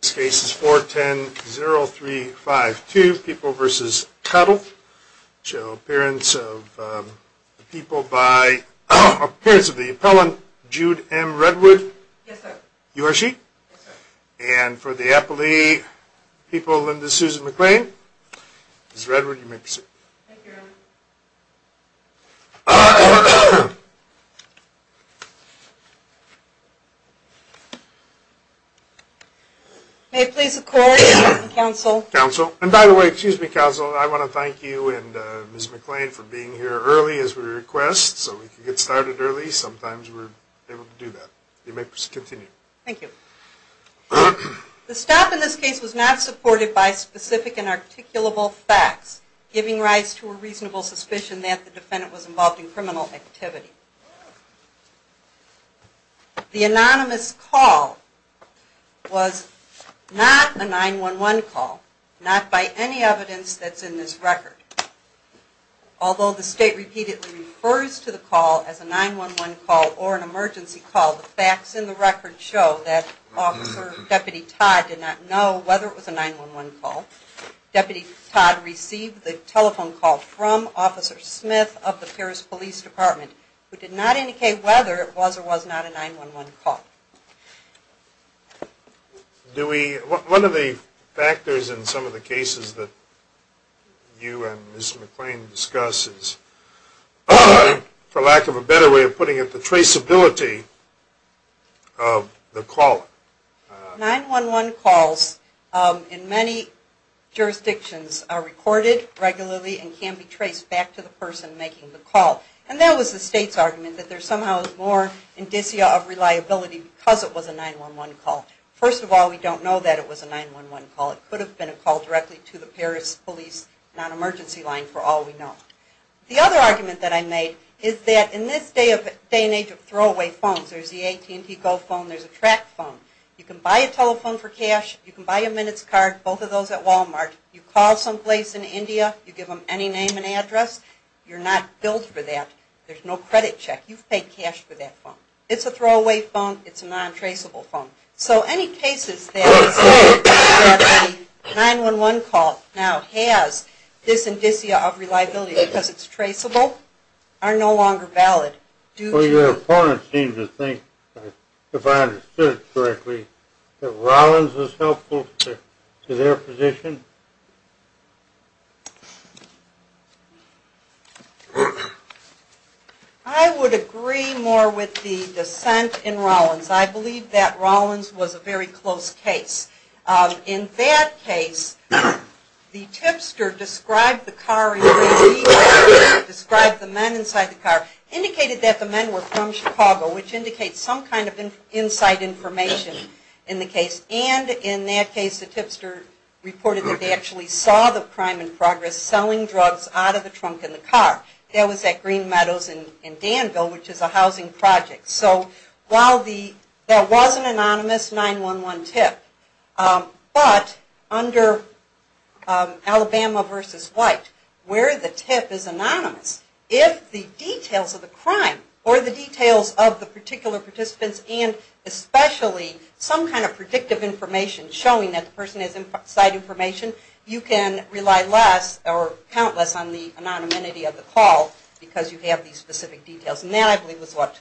This case is 410-0352, People v. Cottle. Appearance of the appellant, Jude M. Redwood. Yes, sir. You are she? Yes, sir. And for the appellee, people, Linda Susan McLean. Thank you, Your Honor. May it please the court and counsel. Counsel. And by the way, excuse me, counsel, I want to thank you and Ms. McLean for being here early as we request. So we could get started early. Sometimes we're able to do that. You may continue. Thank you. The stop in this case was not supported by specific and articulable facts, giving rise to a reasonable suspicion that the defendant was involved in criminal activity. The anonymous call was not a 9-1-1 call, not by any evidence that's in this record. Although the state repeatedly refers to the call as a 9-1-1 call or an emergency call, the facts in the record show that Deputy Todd did not know whether it was a 9-1-1 call. Deputy Todd received the telephone call from Officer Smith of the Paris Police Department, who did not indicate whether it was or was not a 9-1-1 call. One of the factors in some of the cases that you and Ms. McLean discuss is, for lack of a better way of putting it, the traceability of the caller. 9-1-1 calls in many jurisdictions are recorded regularly and can be traced back to the person making the call. And that was the state's argument, that there somehow is more indicia of reliability because it was a 9-1-1 call. First of all, we don't know that it was a 9-1-1 call. It could have been a call directly to the Paris Police non-emergency line for all we know. The other argument that I made is that in this day and age of throwaway phones, there's the AT&T Go phone, there's a track phone, you can buy a telephone for cash, you can buy a minutes card, both of those at Walmart, you call someplace in India, you give them any name and address, you're not billed for that, there's no credit check, you've paid cash for that phone. It's a throwaway phone, it's a non-traceable phone. So any cases that say that the 9-1-1 call now has this indicia of reliability because it's traceable, are no longer valid. Your opponent seems to think, if I understood it correctly, that Rollins was helpful to their position? I would agree more with the dissent in Rollins. I believe that Rollins was a very close case. In that case, the tipster described the car in the way we described it, described the men inside the car, indicated that the men were from Chicago, which indicates some kind of inside information in the case. And in that case, the tipster reported that they actually saw the crime in progress, selling drugs out of the trunk of the car. That was at Green Meadows in Danville, which is a housing project. So while there was an anonymous 9-1-1 tip, but under Alabama v. White, where the tip is anonymous, if the details of the crime or the details of the particular participants and especially some kind of predictive information showing that the person has inside information, you can rely less or count less on the anonymity of the call because you have these specific details. And that, I believe, was what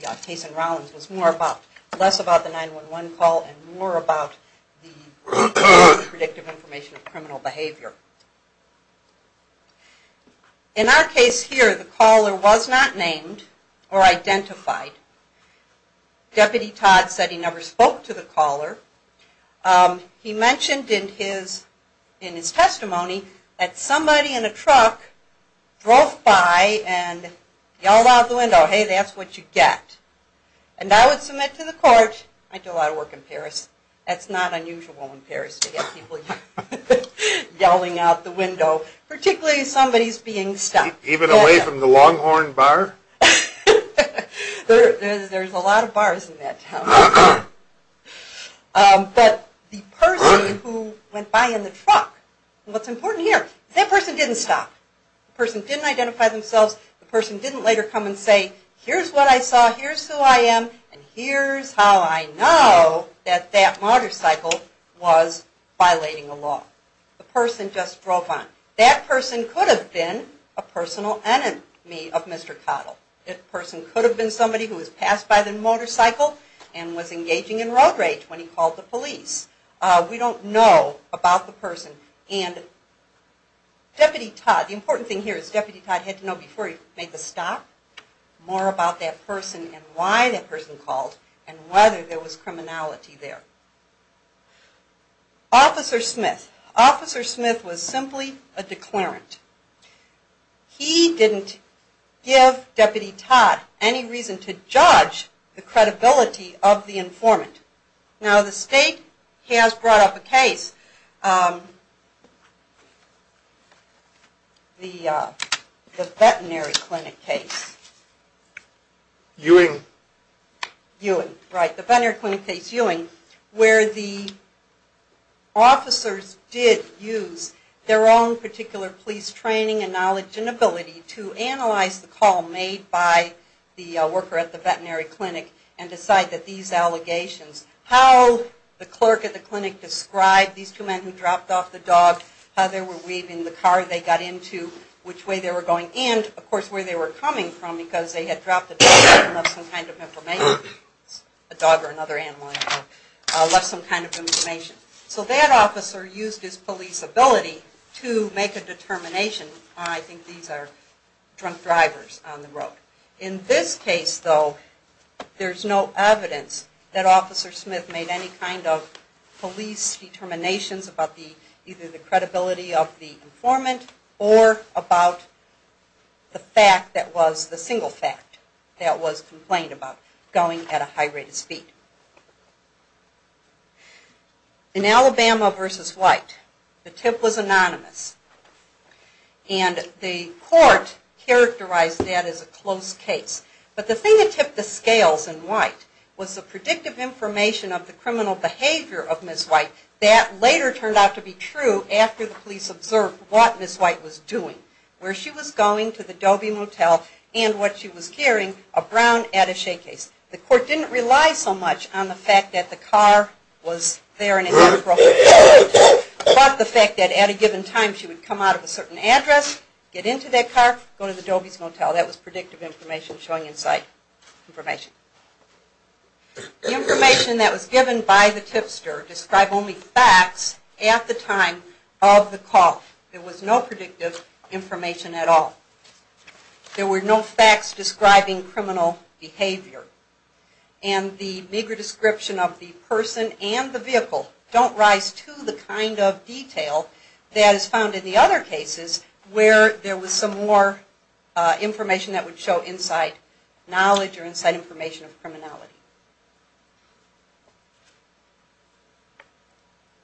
the case in Rollins was more about. Less about the 9-1-1 call and more about the predictive information of criminal behavior. In our case here, the caller was not named or identified. Deputy Todd said he never spoke to the caller. He mentioned in his testimony that somebody in a truck drove by and yelled out the window, hey, that's what you get. And I would submit to the court, I do a lot of work in Paris, that's not unusual in Paris to get people yelling out the window, particularly if somebody's being stopped. Even away from the Longhorn Bar? There's a lot of bars in that town. But the person who went by in the truck, what's important here, that person didn't stop. The person didn't identify themselves. The person didn't later come and say, here's what I saw, here's who I am, and here's how I know that that motorcycle was violating the law. The person just drove on. That person could have been a personal enemy of Mr. Cottle. That person could have been somebody who was passed by the motorcycle and was engaging in road rage when he called the police. We don't know about the person. And Deputy Todd, the important thing here is Deputy Todd had to know before he made the stop more about that person and why that person called and whether there was criminality there. Officer Smith. Officer Smith was simply a declarant. He didn't give Deputy Todd any reason to judge the credibility of the informant. Now the state has brought up a case, the veterinary clinic case. Ewing. Ewing, right, the veterinary clinic case Ewing, where the officers did use their own particular police training and knowledge and ability to analyze the call made by the worker at the veterinary clinic and decide that these allegations, how the clerk at the clinic described these two men who dropped off the dog, how they were waving the car they got into, which way they were going, and of course where they were coming from because they had dropped the dog off and left some kind of information. A dog or another animal, I don't know, left some kind of information. So that officer used his police ability to make a determination. I think these are drunk drivers on the road. In this case, though, there's no evidence that Officer Smith made any kind of police determinations about either the credibility of the informant or about the single fact that was complained about, going at a high rate of speed. In Alabama v. White, the tip was anonymous. And the court characterized that as a close case. But the thing that tipped the scales in White was the predictive information of the criminal behavior of Ms. White that later turned out to be true after the police observed what Ms. White was doing. Where she was going to the Dobie Motel and what she was carrying, a brown attache case. The court didn't rely so much on the fact that the car was there and it had a broken window, but the fact that at a given time she would come out of a certain address, get into that car, go to the Dobie's Motel. That was predictive information showing in sight information. The information that was given by the tipster described only facts at the time of the call. There was no predictive information at all. There were no facts describing criminal behavior. And the meager description of the person and the vehicle don't rise to the kind of detail that is found in the other cases where there was some more information that would show inside knowledge or inside information of criminality.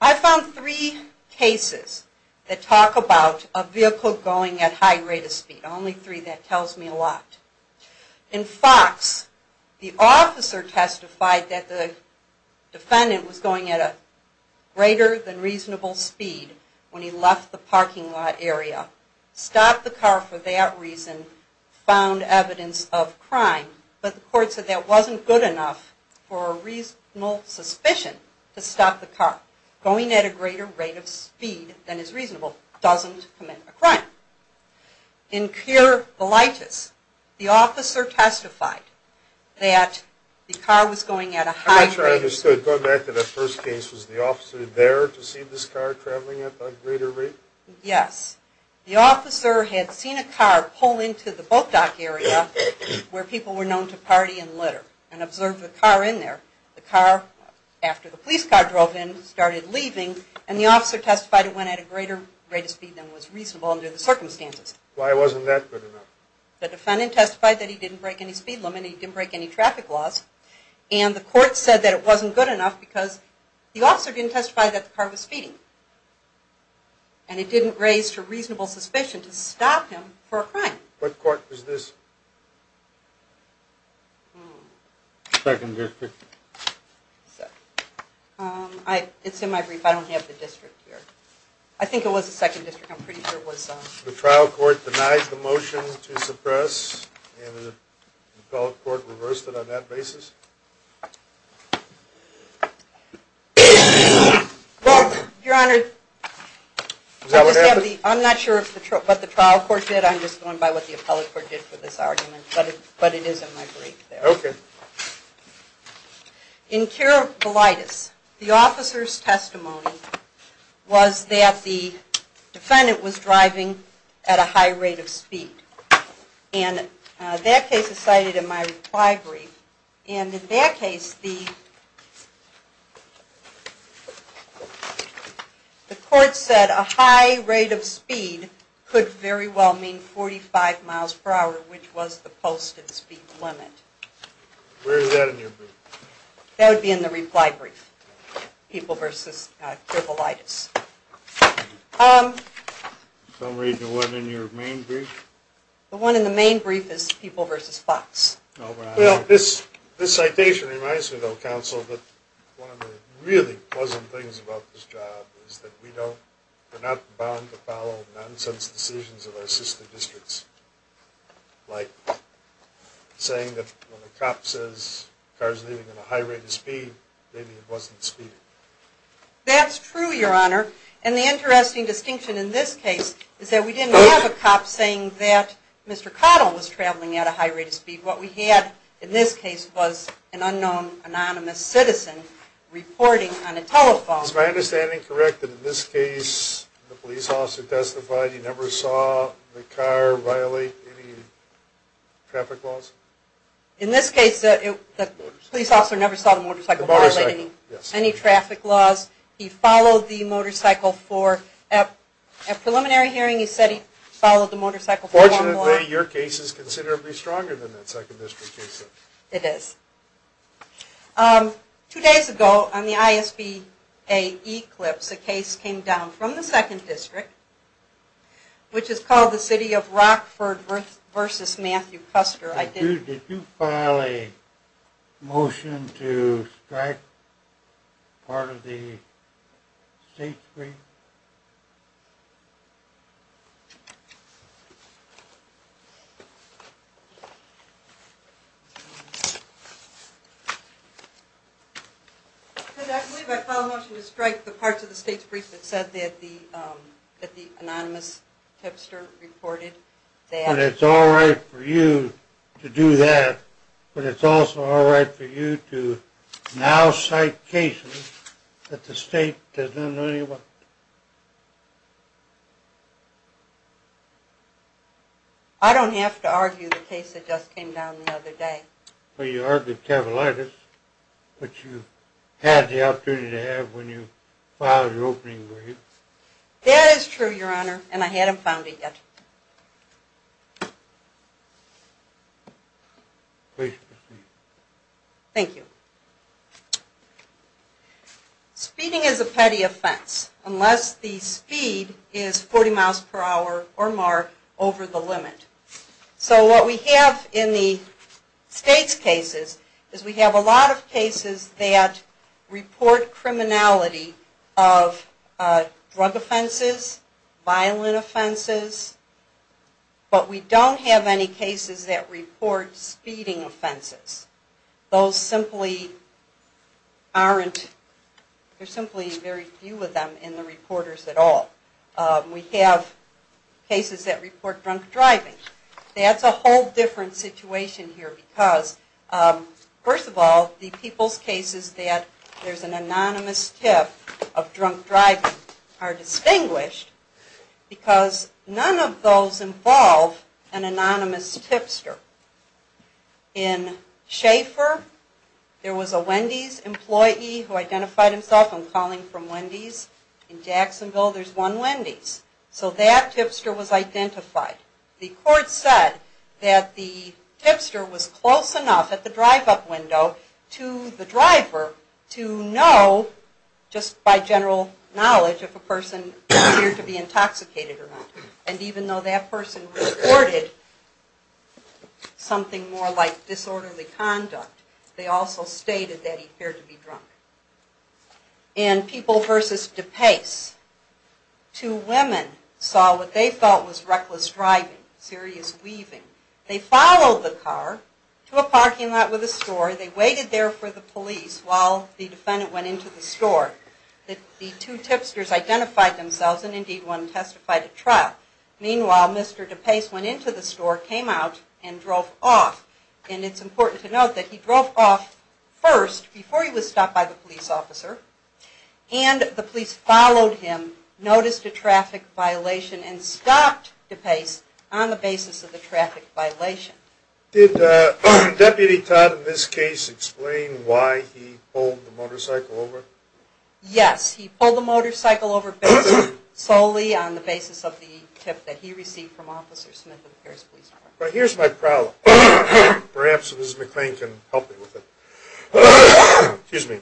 I found three cases that talk about a vehicle going at high rate of speed. Only three, that tells me a lot. In Fox, the officer testified that the defendant was going at a greater than reasonable speed when he left the parking lot area, stopped the car for that reason, and found evidence of crime. But the court said that wasn't good enough for a reasonable suspicion to stop the car. Going at a greater rate of speed than is reasonable doesn't commit a crime. In Cure Volitis, the officer testified that the car was going at a high rate of speed. I'm not sure I understood. Going back to that first case, was the officer there to see this car traveling at a greater rate? Yes. The officer had seen a car pull into the boat dock area where people were known to party and litter and observed the car in there. The car, after the police car drove in, started leaving, and the officer testified it went at a greater rate of speed than was reasonable under the circumstances. Why wasn't that good enough? The defendant testified that he didn't break any speed limit, he didn't break any traffic laws, and the court said that it wasn't good enough because the officer didn't testify that the car was speeding. And it didn't raise to reasonable suspicion to stop him for a crime. What court was this? Second District. It's in my brief. I don't have the district here. I think it was the Second District. I'm pretty sure it was. The trial court denied the motion to suppress, and the appellate court reversed it on that basis? Well, Your Honor, I'm not sure what the trial court did. I'm just going by what the appellate court did for this argument. But it is in my brief there. Okay. In Curablitis, the officer's testimony was that the defendant was driving at a high rate of speed. And that case is cited in my reply brief. And in that case, the court said a high rate of speed could very well mean 45 miles per hour, which was the posted speed limit. Where is that in your brief? That would be in the reply brief. People v. Curablitis. Some reason it wasn't in your main brief? The one in the main brief is People v. Fox. Well, this citation reminds me, though, Counsel, that one of the really pleasant things about this job is that we're not bound to follow nonsense decisions of our sister districts, like saying that when a cop says a car's leaving at a high rate of speed, maybe it wasn't speeding. That's true, Your Honor. And the interesting distinction in this case is that we didn't have a cop saying that Mr. Cottle was traveling at a high rate of speed. What we had in this case was an unknown, anonymous citizen reporting on a telephone. Is my understanding correct that in this case, the police officer testified he never saw the car violate any traffic laws? In this case, the police officer never saw the motorcycle violate any traffic laws. He followed the motorcycle for, at preliminary hearing, he said he followed the motorcycle for one law. Fortunately, your case is considerably stronger than that Second District case, though. It is. Two days ago, on the ISBA Eclipse, a case came down from the Second District, which is called the City of Rockford v. Matthew Custer. Did you file a motion to strike part of the state's brief? I believe I filed a motion to strike the parts of the state's brief that said that the anonymous tipster reported that And it's all right for you to do that, but it's also all right for you to now cite cases that the state does not know any about? I don't have to argue the case that just came down the other day. Well, you argued cavilitis, which you had the opportunity to have when you filed your opening brief. That is true, Your Honor, and I hadn't found it yet. Please proceed. Thank you. Speeding is a petty offense, unless the speed is 40 miles per hour or more over the limit. So what we have in the state's cases is we have a lot of cases that report criminality of drug offenses, violent offenses, but we don't have any cases that report speeding offenses. There are simply very few of them in the reporters at all. We have cases that report drunk driving. That's a whole different situation here because, first of all, the people's cases that there's an anonymous tip of drunk driving are distinguished because none of those involve an anonymous tipster. In Schaefer, there was a Wendy's employee who identified himself on calling from Wendy's. In Jacksonville, there's one Wendy's. So that tipster was identified. The court said that the tipster was close enough at the drive-up window to the driver to know, just by general knowledge, if a person appeared to be intoxicated or not. And even though that person reported something more like disorderly conduct, they also stated that he appeared to be drunk. In People v. DePace, two women saw what they felt was reckless driving, serious weaving. They followed the car to a parking lot with a store. They waited there for the police while the defendant went into the store. The two tipsters identified themselves and, indeed, one testified at trial. Meanwhile, Mr. DePace went into the store, came out, and drove off. And it's important to note that he drove off first, before he was stopped by the police officer, and the police followed him, noticed a traffic violation, and stopped DePace on the basis of the traffic violation. Did Deputy Todd, in this case, explain why he pulled the motorcycle over? Yes, he pulled the motorcycle over solely on the basis of the tip that he received from Officer Smith of the Paris Police Department. But here's my problem. Perhaps Mrs. McClain can help me with it. Excuse me.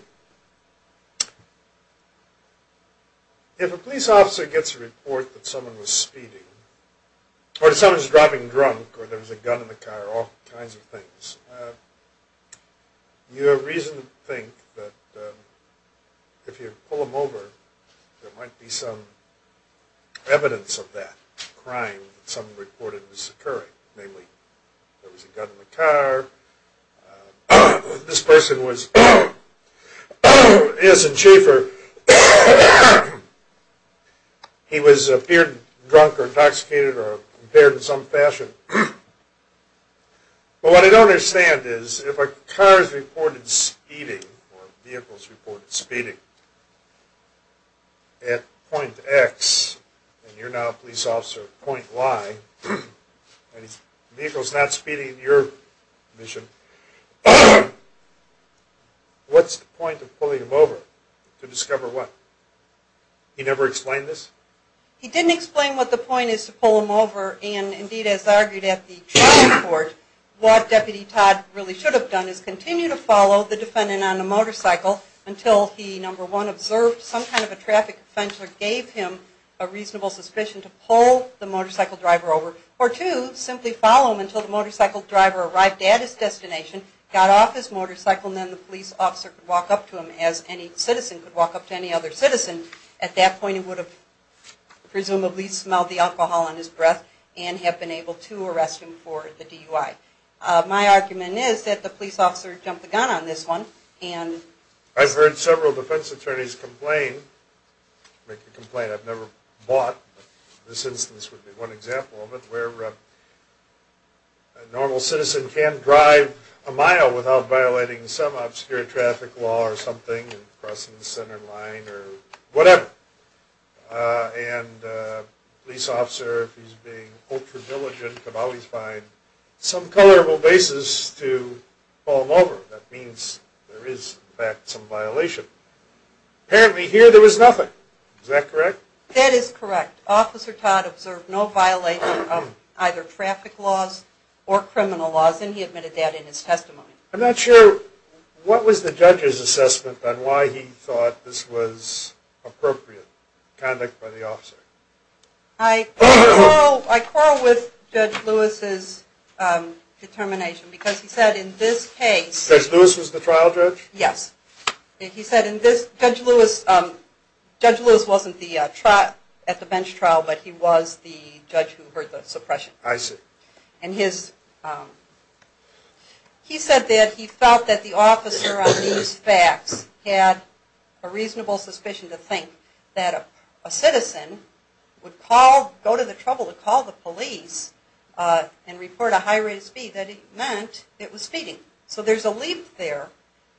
If a police officer gets a report that someone was speeding, or that someone was driving drunk, or there was a gun in the car, or all kinds of things, you have reason to think that if you pull them over, there might be some evidence of that crime that someone reported was occurring. Namely, there was a gun in the car. This person was, is a chiefer. He appeared drunk or intoxicated or impaired in some fashion. But what I don't understand is, if a car is reported speeding, or a vehicle is reported speeding, at point X, and you're now a police officer at point Y, and a vehicle is not speeding in your mission, what's the point of pulling them over? To discover what? He never explained this? He didn't explain what the point is to pull them over, and indeed, as I argued at the trial report, what Deputy Todd really should have done is continue to follow the defendant on a motorcycle until he, number one, observed some kind of a traffic offender gave him a reasonable suspicion to pull the motorcycle driver over. Or two, simply follow him until the motorcycle driver arrived at his destination, got off his motorcycle, and then the police officer could walk up to him as any citizen could walk up to any other citizen. At that point, he would have presumably smelled the alcohol on his breath and have been able to arrest him for the DUI. My argument is that the police officer jumped the gun on this one. I've heard several defense attorneys complain, make a complaint, I've never bought. This instance would be one example of it, where a normal citizen can drive a mile without violating some obscure traffic law or something, crossing the center line, or whatever. And a police officer, if he's being ultra-diligent, can always find some colorable basis to pull him over. That means there is, in fact, some violation. Apparently, here there was nothing. Is that correct? That is correct. Officer Todd observed no violation of either traffic laws or criminal laws, and he admitted that in his testimony. I'm not sure, what was the judge's assessment on why he thought this was appropriate conduct by the officer? I quarrel with Judge Lewis's determination, because he said in this case... Judge Lewis was the trial judge? Yes. Judge Lewis wasn't at the bench trial, but he was the judge who heard the suppression. I see. And he said that he felt that the officer on these facts had a reasonable suspicion to think that a citizen would go to the trouble to call the police and report a high rate of speed, that it meant it was speeding. So there's a leap there,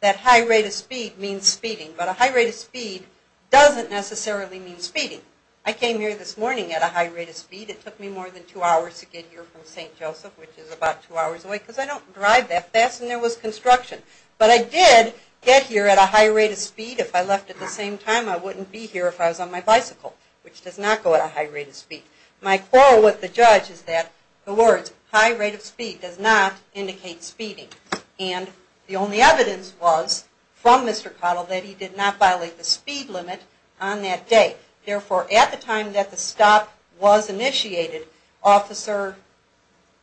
that high rate of speed means speeding. But a high rate of speed doesn't necessarily mean speeding. I came here this morning at a high rate of speed. It took me more than two hours to get here from St. Joseph, which is about two hours away, because I don't drive that fast, and there was construction. But I did get here at a high rate of speed. If I left at the same time, I wouldn't be here if I was on my bicycle, which does not go at a high rate of speed. My quarrel with the judge is that the words high rate of speed does not indicate speeding. And the only evidence was from Mr. Cottle that he did not violate the speed limit on that day. Therefore, at the time that the stop was initiated,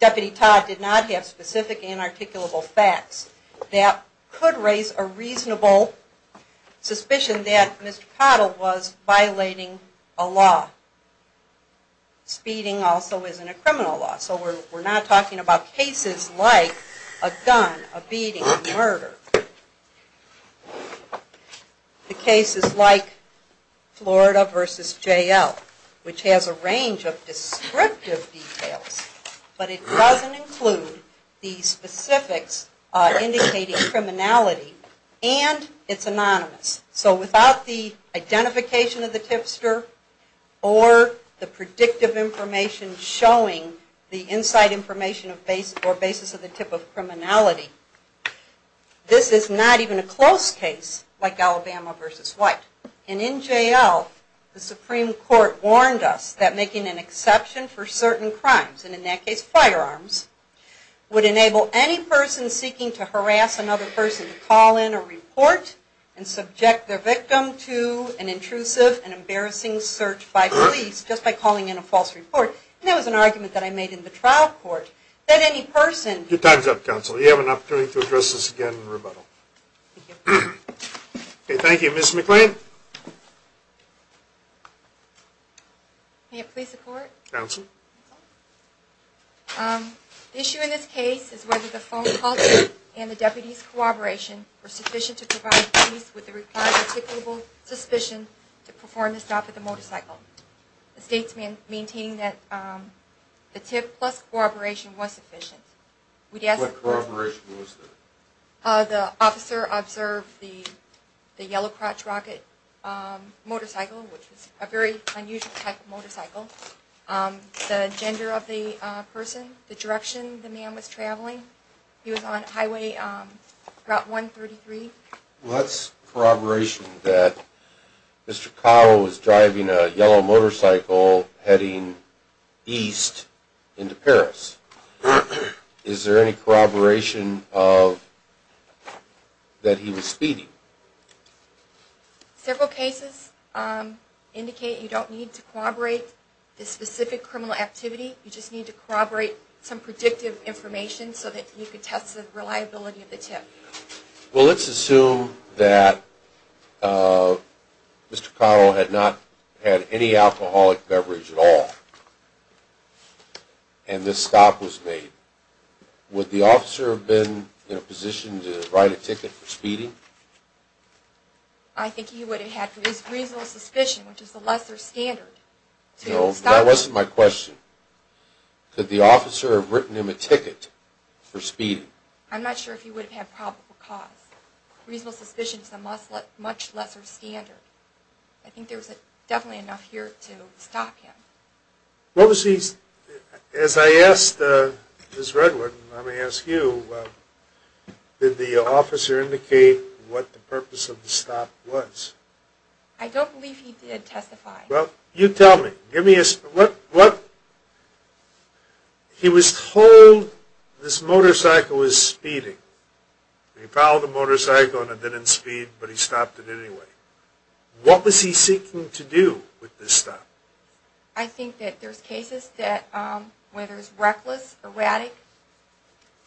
Deputy Todd did not have specific and articulable facts that could raise a reasonable suspicion that Mr. Cottle was violating a law. Speeding also isn't a criminal law, so we're not talking about cases like a gun, a beating, a murder. We're talking about cases like Florida v. J.L., which has a range of descriptive details, but it doesn't include the specifics indicating criminality, and it's anonymous. So without the identification of the tipster or the predictive information showing the inside information or basis of the tip of criminality, this is not even a close case like Alabama v. White. And in J.L., the Supreme Court warned us that making an exception for certain crimes, and in that case firearms, would enable any person seeking to harass another person to call in a report and subject their victim to an intrusive and embarrassing search by police just by calling in a false report. And that was an argument that I made in the trial court, that any person... Your time's up, Counsel. You have an opportunity to address this again in rebuttal. Thank you. Okay, thank you. Ms. McClain? May it please the Court? Counsel? The issue in this case is whether the phone calls and the deputy's corroboration were sufficient to provide the police with the required articulable suspicion to perform the stop at the motorcycle. The state's maintaining that the tip plus corroboration was sufficient. What corroboration was there? The officer observed the yellow crotch rocket motorcycle, which was a very unusual type of motorcycle, the gender of the person, the direction the man was traveling. He was on Highway Route 133. Well, that's corroboration that Mr. Kyle was driving a yellow motorcycle heading east into Paris. Is there any corroboration that he was speeding? Several cases indicate you don't need to corroborate the specific criminal activity. You just need to corroborate some predictive information so that you can test the reliability of the tip. Well, let's assume that Mr. Kyle had not had any alcoholic beverage at all and this stop was made. Would the officer have been positioned to write a ticket for speeding? I think he would have had reasonable suspicion, which is the lesser standard. No, that wasn't my question. Could the officer have written him a ticket for speeding? I'm not sure if he would have had probable cause. Reasonable suspicion is a much lesser standard. I think there was definitely enough here to stop him. As I asked Ms. Redwood, let me ask you, did the officer indicate what the purpose of the stop was? I don't believe he did testify. Well, you tell me. He was told this motorcycle was speeding. He followed the motorcycle and it didn't speed, but he stopped it anyway. What was he seeking to do with this stop? I think that there's cases where there's reckless, erratic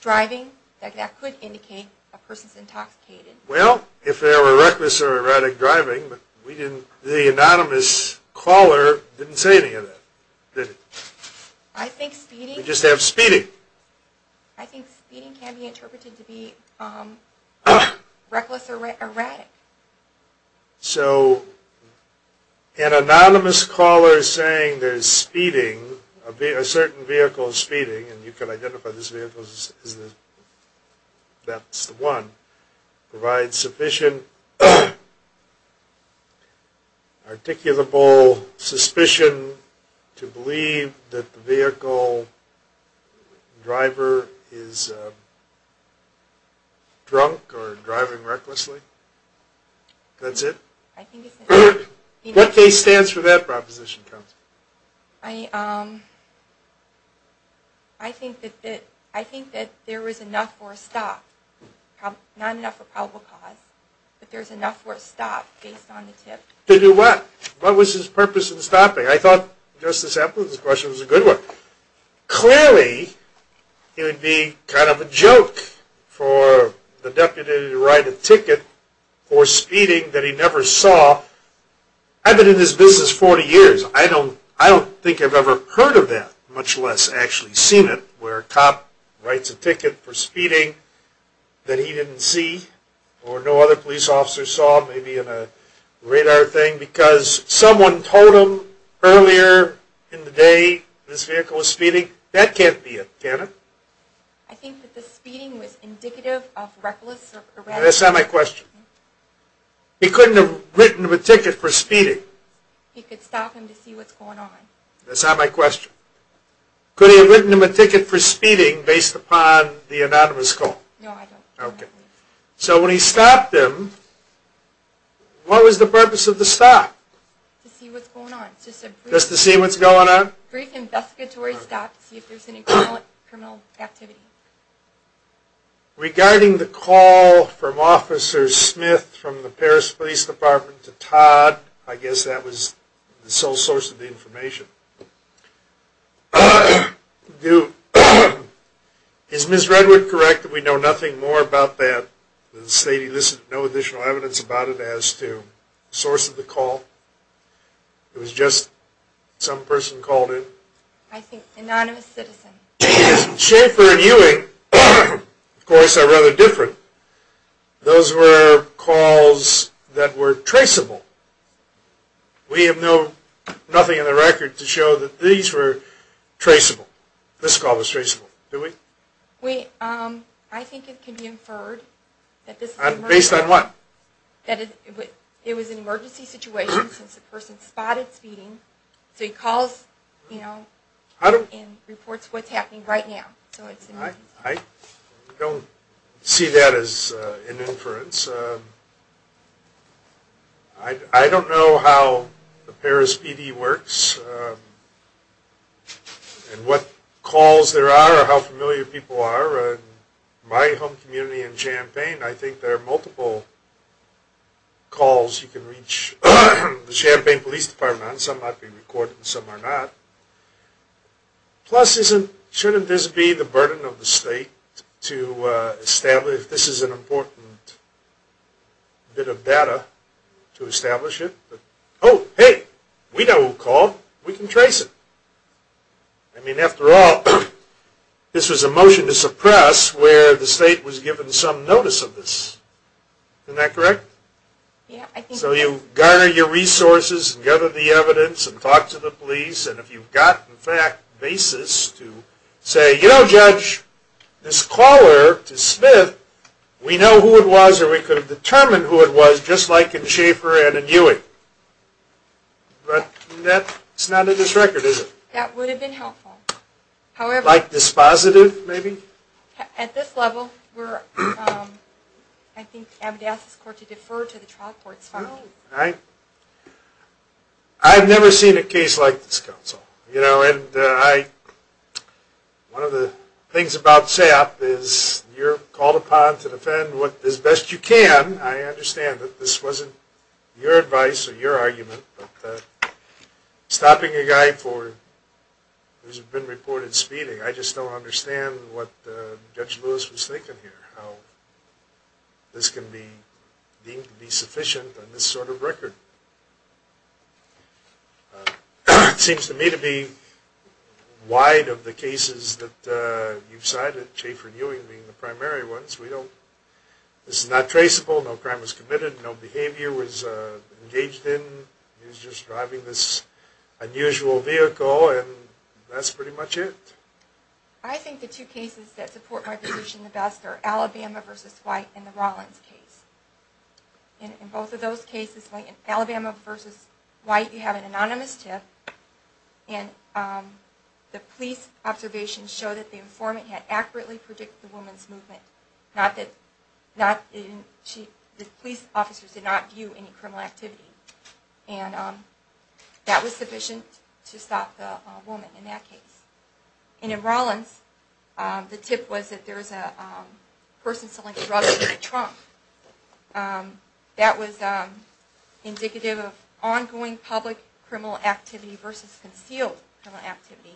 driving that could indicate a person's intoxicated. Well, if there were reckless or erratic driving, the anonymous caller didn't say any of that. I think speeding can be interpreted to be reckless or erratic. So, an anonymous caller saying there's speeding, a certain vehicle is speeding, and you can identify this vehicle as that's the one, provides sufficient articulable suspicion to believe that the vehicle driver is drunk or driving recklessly? That's it? What case stands for that proposition, counsel? I think that there is enough for a stop, not enough for probable cause, but there's enough for a stop based on the tip. To do what? What was his purpose in stopping? I thought Justice Appleton's question was a good one. Clearly, it would be kind of a joke for the deputy to write a ticket for speeding that he never saw. I've been in this business 40 years. I don't think I've ever heard of that, much less actually seen it, where a cop writes a ticket for speeding that he didn't see, or no other police officer saw, maybe in a radar thing, because someone told him earlier in the day this vehicle was speeding. That can't be it, can it? I think that the speeding was indicative of reckless or erratic. That's not my question. He couldn't have written him a ticket for speeding. He could stop him to see what's going on. That's not my question. Could he have written him a ticket for speeding based upon the anonymous call? No, I don't. Okay. So when he stopped him, what was the purpose of the stop? To see what's going on. Just to see what's going on? Brief investigatory stop to see if there's any criminal activity. Regarding the call from Officer Smith from the Paris Police Department to Todd, I guess that was the sole source of the information. Is Ms. Redwood correct that we know nothing more about that? There's no additional evidence about it as to the source of the call? It was just some person called in? I think an anonymous citizen. Schaefer and Ewing, of course, are rather different. Those were calls that were traceable. We have nothing in the record to show that these were traceable. This call was traceable. Do we? I think it can be inferred. Based on what? That it was an emergency situation since the person spotted speeding. So he calls and reports what's happening right now. I don't see that as an inference. I don't know how the Paris PD works and what calls there are or how familiar people are. In my home community in Champaign, I think there are multiple calls. You can reach the Champaign Police Department. Some might be recorded and some are not. Plus, shouldn't this be the burden of the state to establish if this is an important bit of data to establish it? Oh, hey, we know who called. We can trace it. I mean, after all, this was a motion to suppress where the state was given some notice of this. Isn't that correct? So you garner your resources and gather the evidence and talk to the police, and if you've got, in fact, basis to say, you know, Judge, this caller to Smith, we know who it was or we could have determined who it was just like in Schaefer and in Ewing. But that's not in this record, is it? That would have been helpful. Like dispositive, maybe? At this level, I think, I would ask this court to defer to the trial court's findings. I've never seen a case like this, Counsel. You know, and one of the things about SAP is you're called upon to defend as best you can. I understand that this wasn't your advice or your argument, but stopping a guy who's been reported speeding, I just don't understand what Judge Lewis was thinking here, how this can be deemed to be sufficient on this sort of record. It seems to me to be wide of the cases that you've cited, Schaefer and Ewing being the primary ones. This is not traceable. No crime was committed. No behavior was engaged in. He was just driving this unusual vehicle, and that's pretty much it. I think the two cases that support my position the best are Alabama v. White and the Rollins case. In both of those cases, Alabama v. White, you have an anonymous tip, and the police observations show that the informant had accurately predicted the woman's movement. The police officers did not view any criminal activity, and that was sufficient to stop the woman in that case. And in Rollins, the tip was that there was a person selling drugs in the trunk. That was indicative of ongoing public criminal activity versus concealed criminal activity,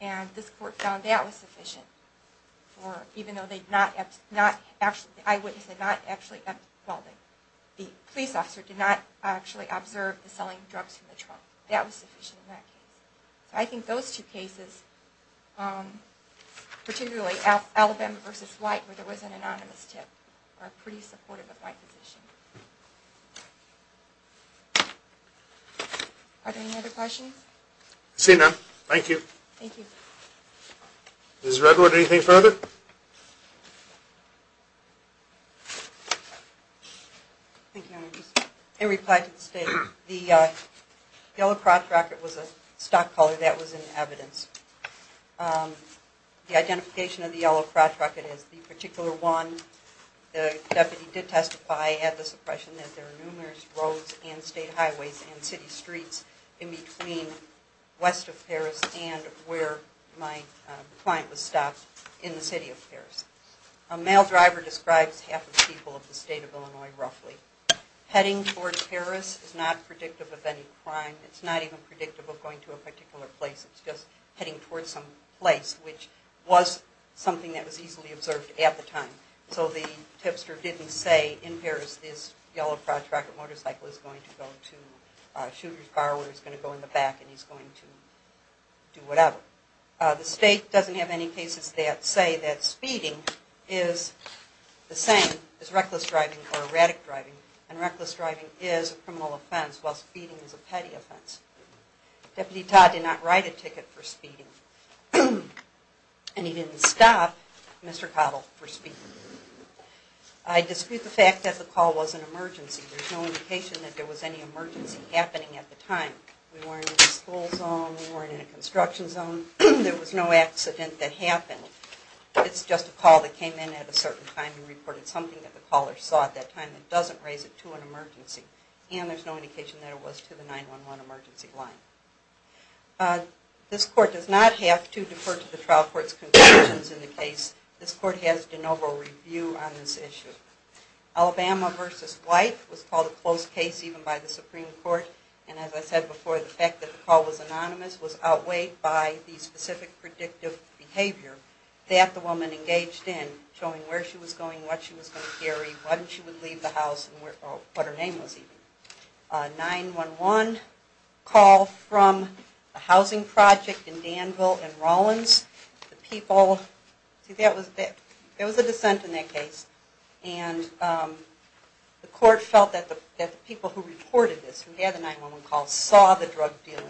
and this court found that was sufficient, even though the eyewitness did not actually observe the selling of drugs in the trunk. That was sufficient in that case. I think those two cases, particularly Alabama v. White, where there was an anonymous tip, are pretty supportive of my position. Are there any other questions? I see none. Thank you. Thank you. Ms. Redwood, anything further? Thank you, Your Honor. In reply to the State, the yellow crotch racket was a stock collar. That was in evidence. The identification of the yellow crotch racket is the particular one. The deputy did testify at the suppression that there are numerous roads and state highways and city streets in between west of Paris and where my client was stopped in the city of Paris. A male driver describes half the people of the state of Illinois, roughly. Heading toward Paris is not predictive of any crime. It's not even predictive of going to a particular place. It's just heading toward some place, which was something that was easily observed at the time. So the tipster didn't say, in Paris this yellow crotch racket motorcycle is going to go to a shooter's car where he's going to go in the back and he's going to do whatever. The State doesn't have any cases that say that speeding is the same as reckless driving or erratic driving. Reckless driving is a criminal offense while speeding is a petty offense. Deputy Todd did not write a ticket for speeding and he didn't stop Mr. Cottle for speeding. I dispute the fact that the call was an emergency. There's no indication that there was any emergency happening at the time. We weren't in a school zone. We weren't in a construction zone. There was no accident that happened. It's just a call that came in at a certain time and reported something that the caller saw at that time that doesn't raise it to an emergency. And there's no indication that it was to the 911 emergency line. This court does not have to defer to the trial court's conclusions in the case. This court has de novo review on this issue. Alabama v. White was called a close case even by the Supreme Court. And as I said before, the fact that the call was anonymous was outweighed by the specific predictive behavior that the woman engaged in, what she was going to carry, when she would leave the house, and what her name was even. A 911 call from a housing project in Danville and Rollins. The people... See, there was a dissent in that case. And the court felt that the people who reported this, who had the 911 call, saw the drug dealing.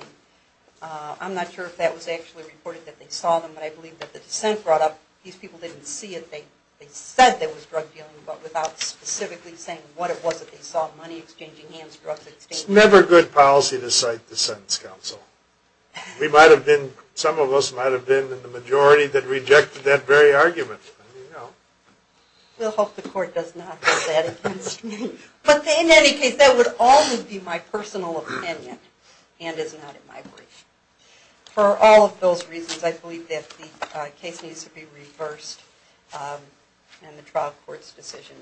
I'm not sure if that was actually reported, that they saw them, but I believe that the dissent brought up, these people didn't see it. They said there was drug dealing, but without specifically saying what it was that they saw. Money exchanging, hands, drugs exchanging. It's never good policy to cite the sentence counsel. We might have been, some of us might have been, in the majority, that rejected that very argument. We'll hope the court does not hold that against me. But in any case, that would always be my personal opinion, and is not in my brief. For all of those reasons, I believe that the case needs to be reversed, and the trial court's decision.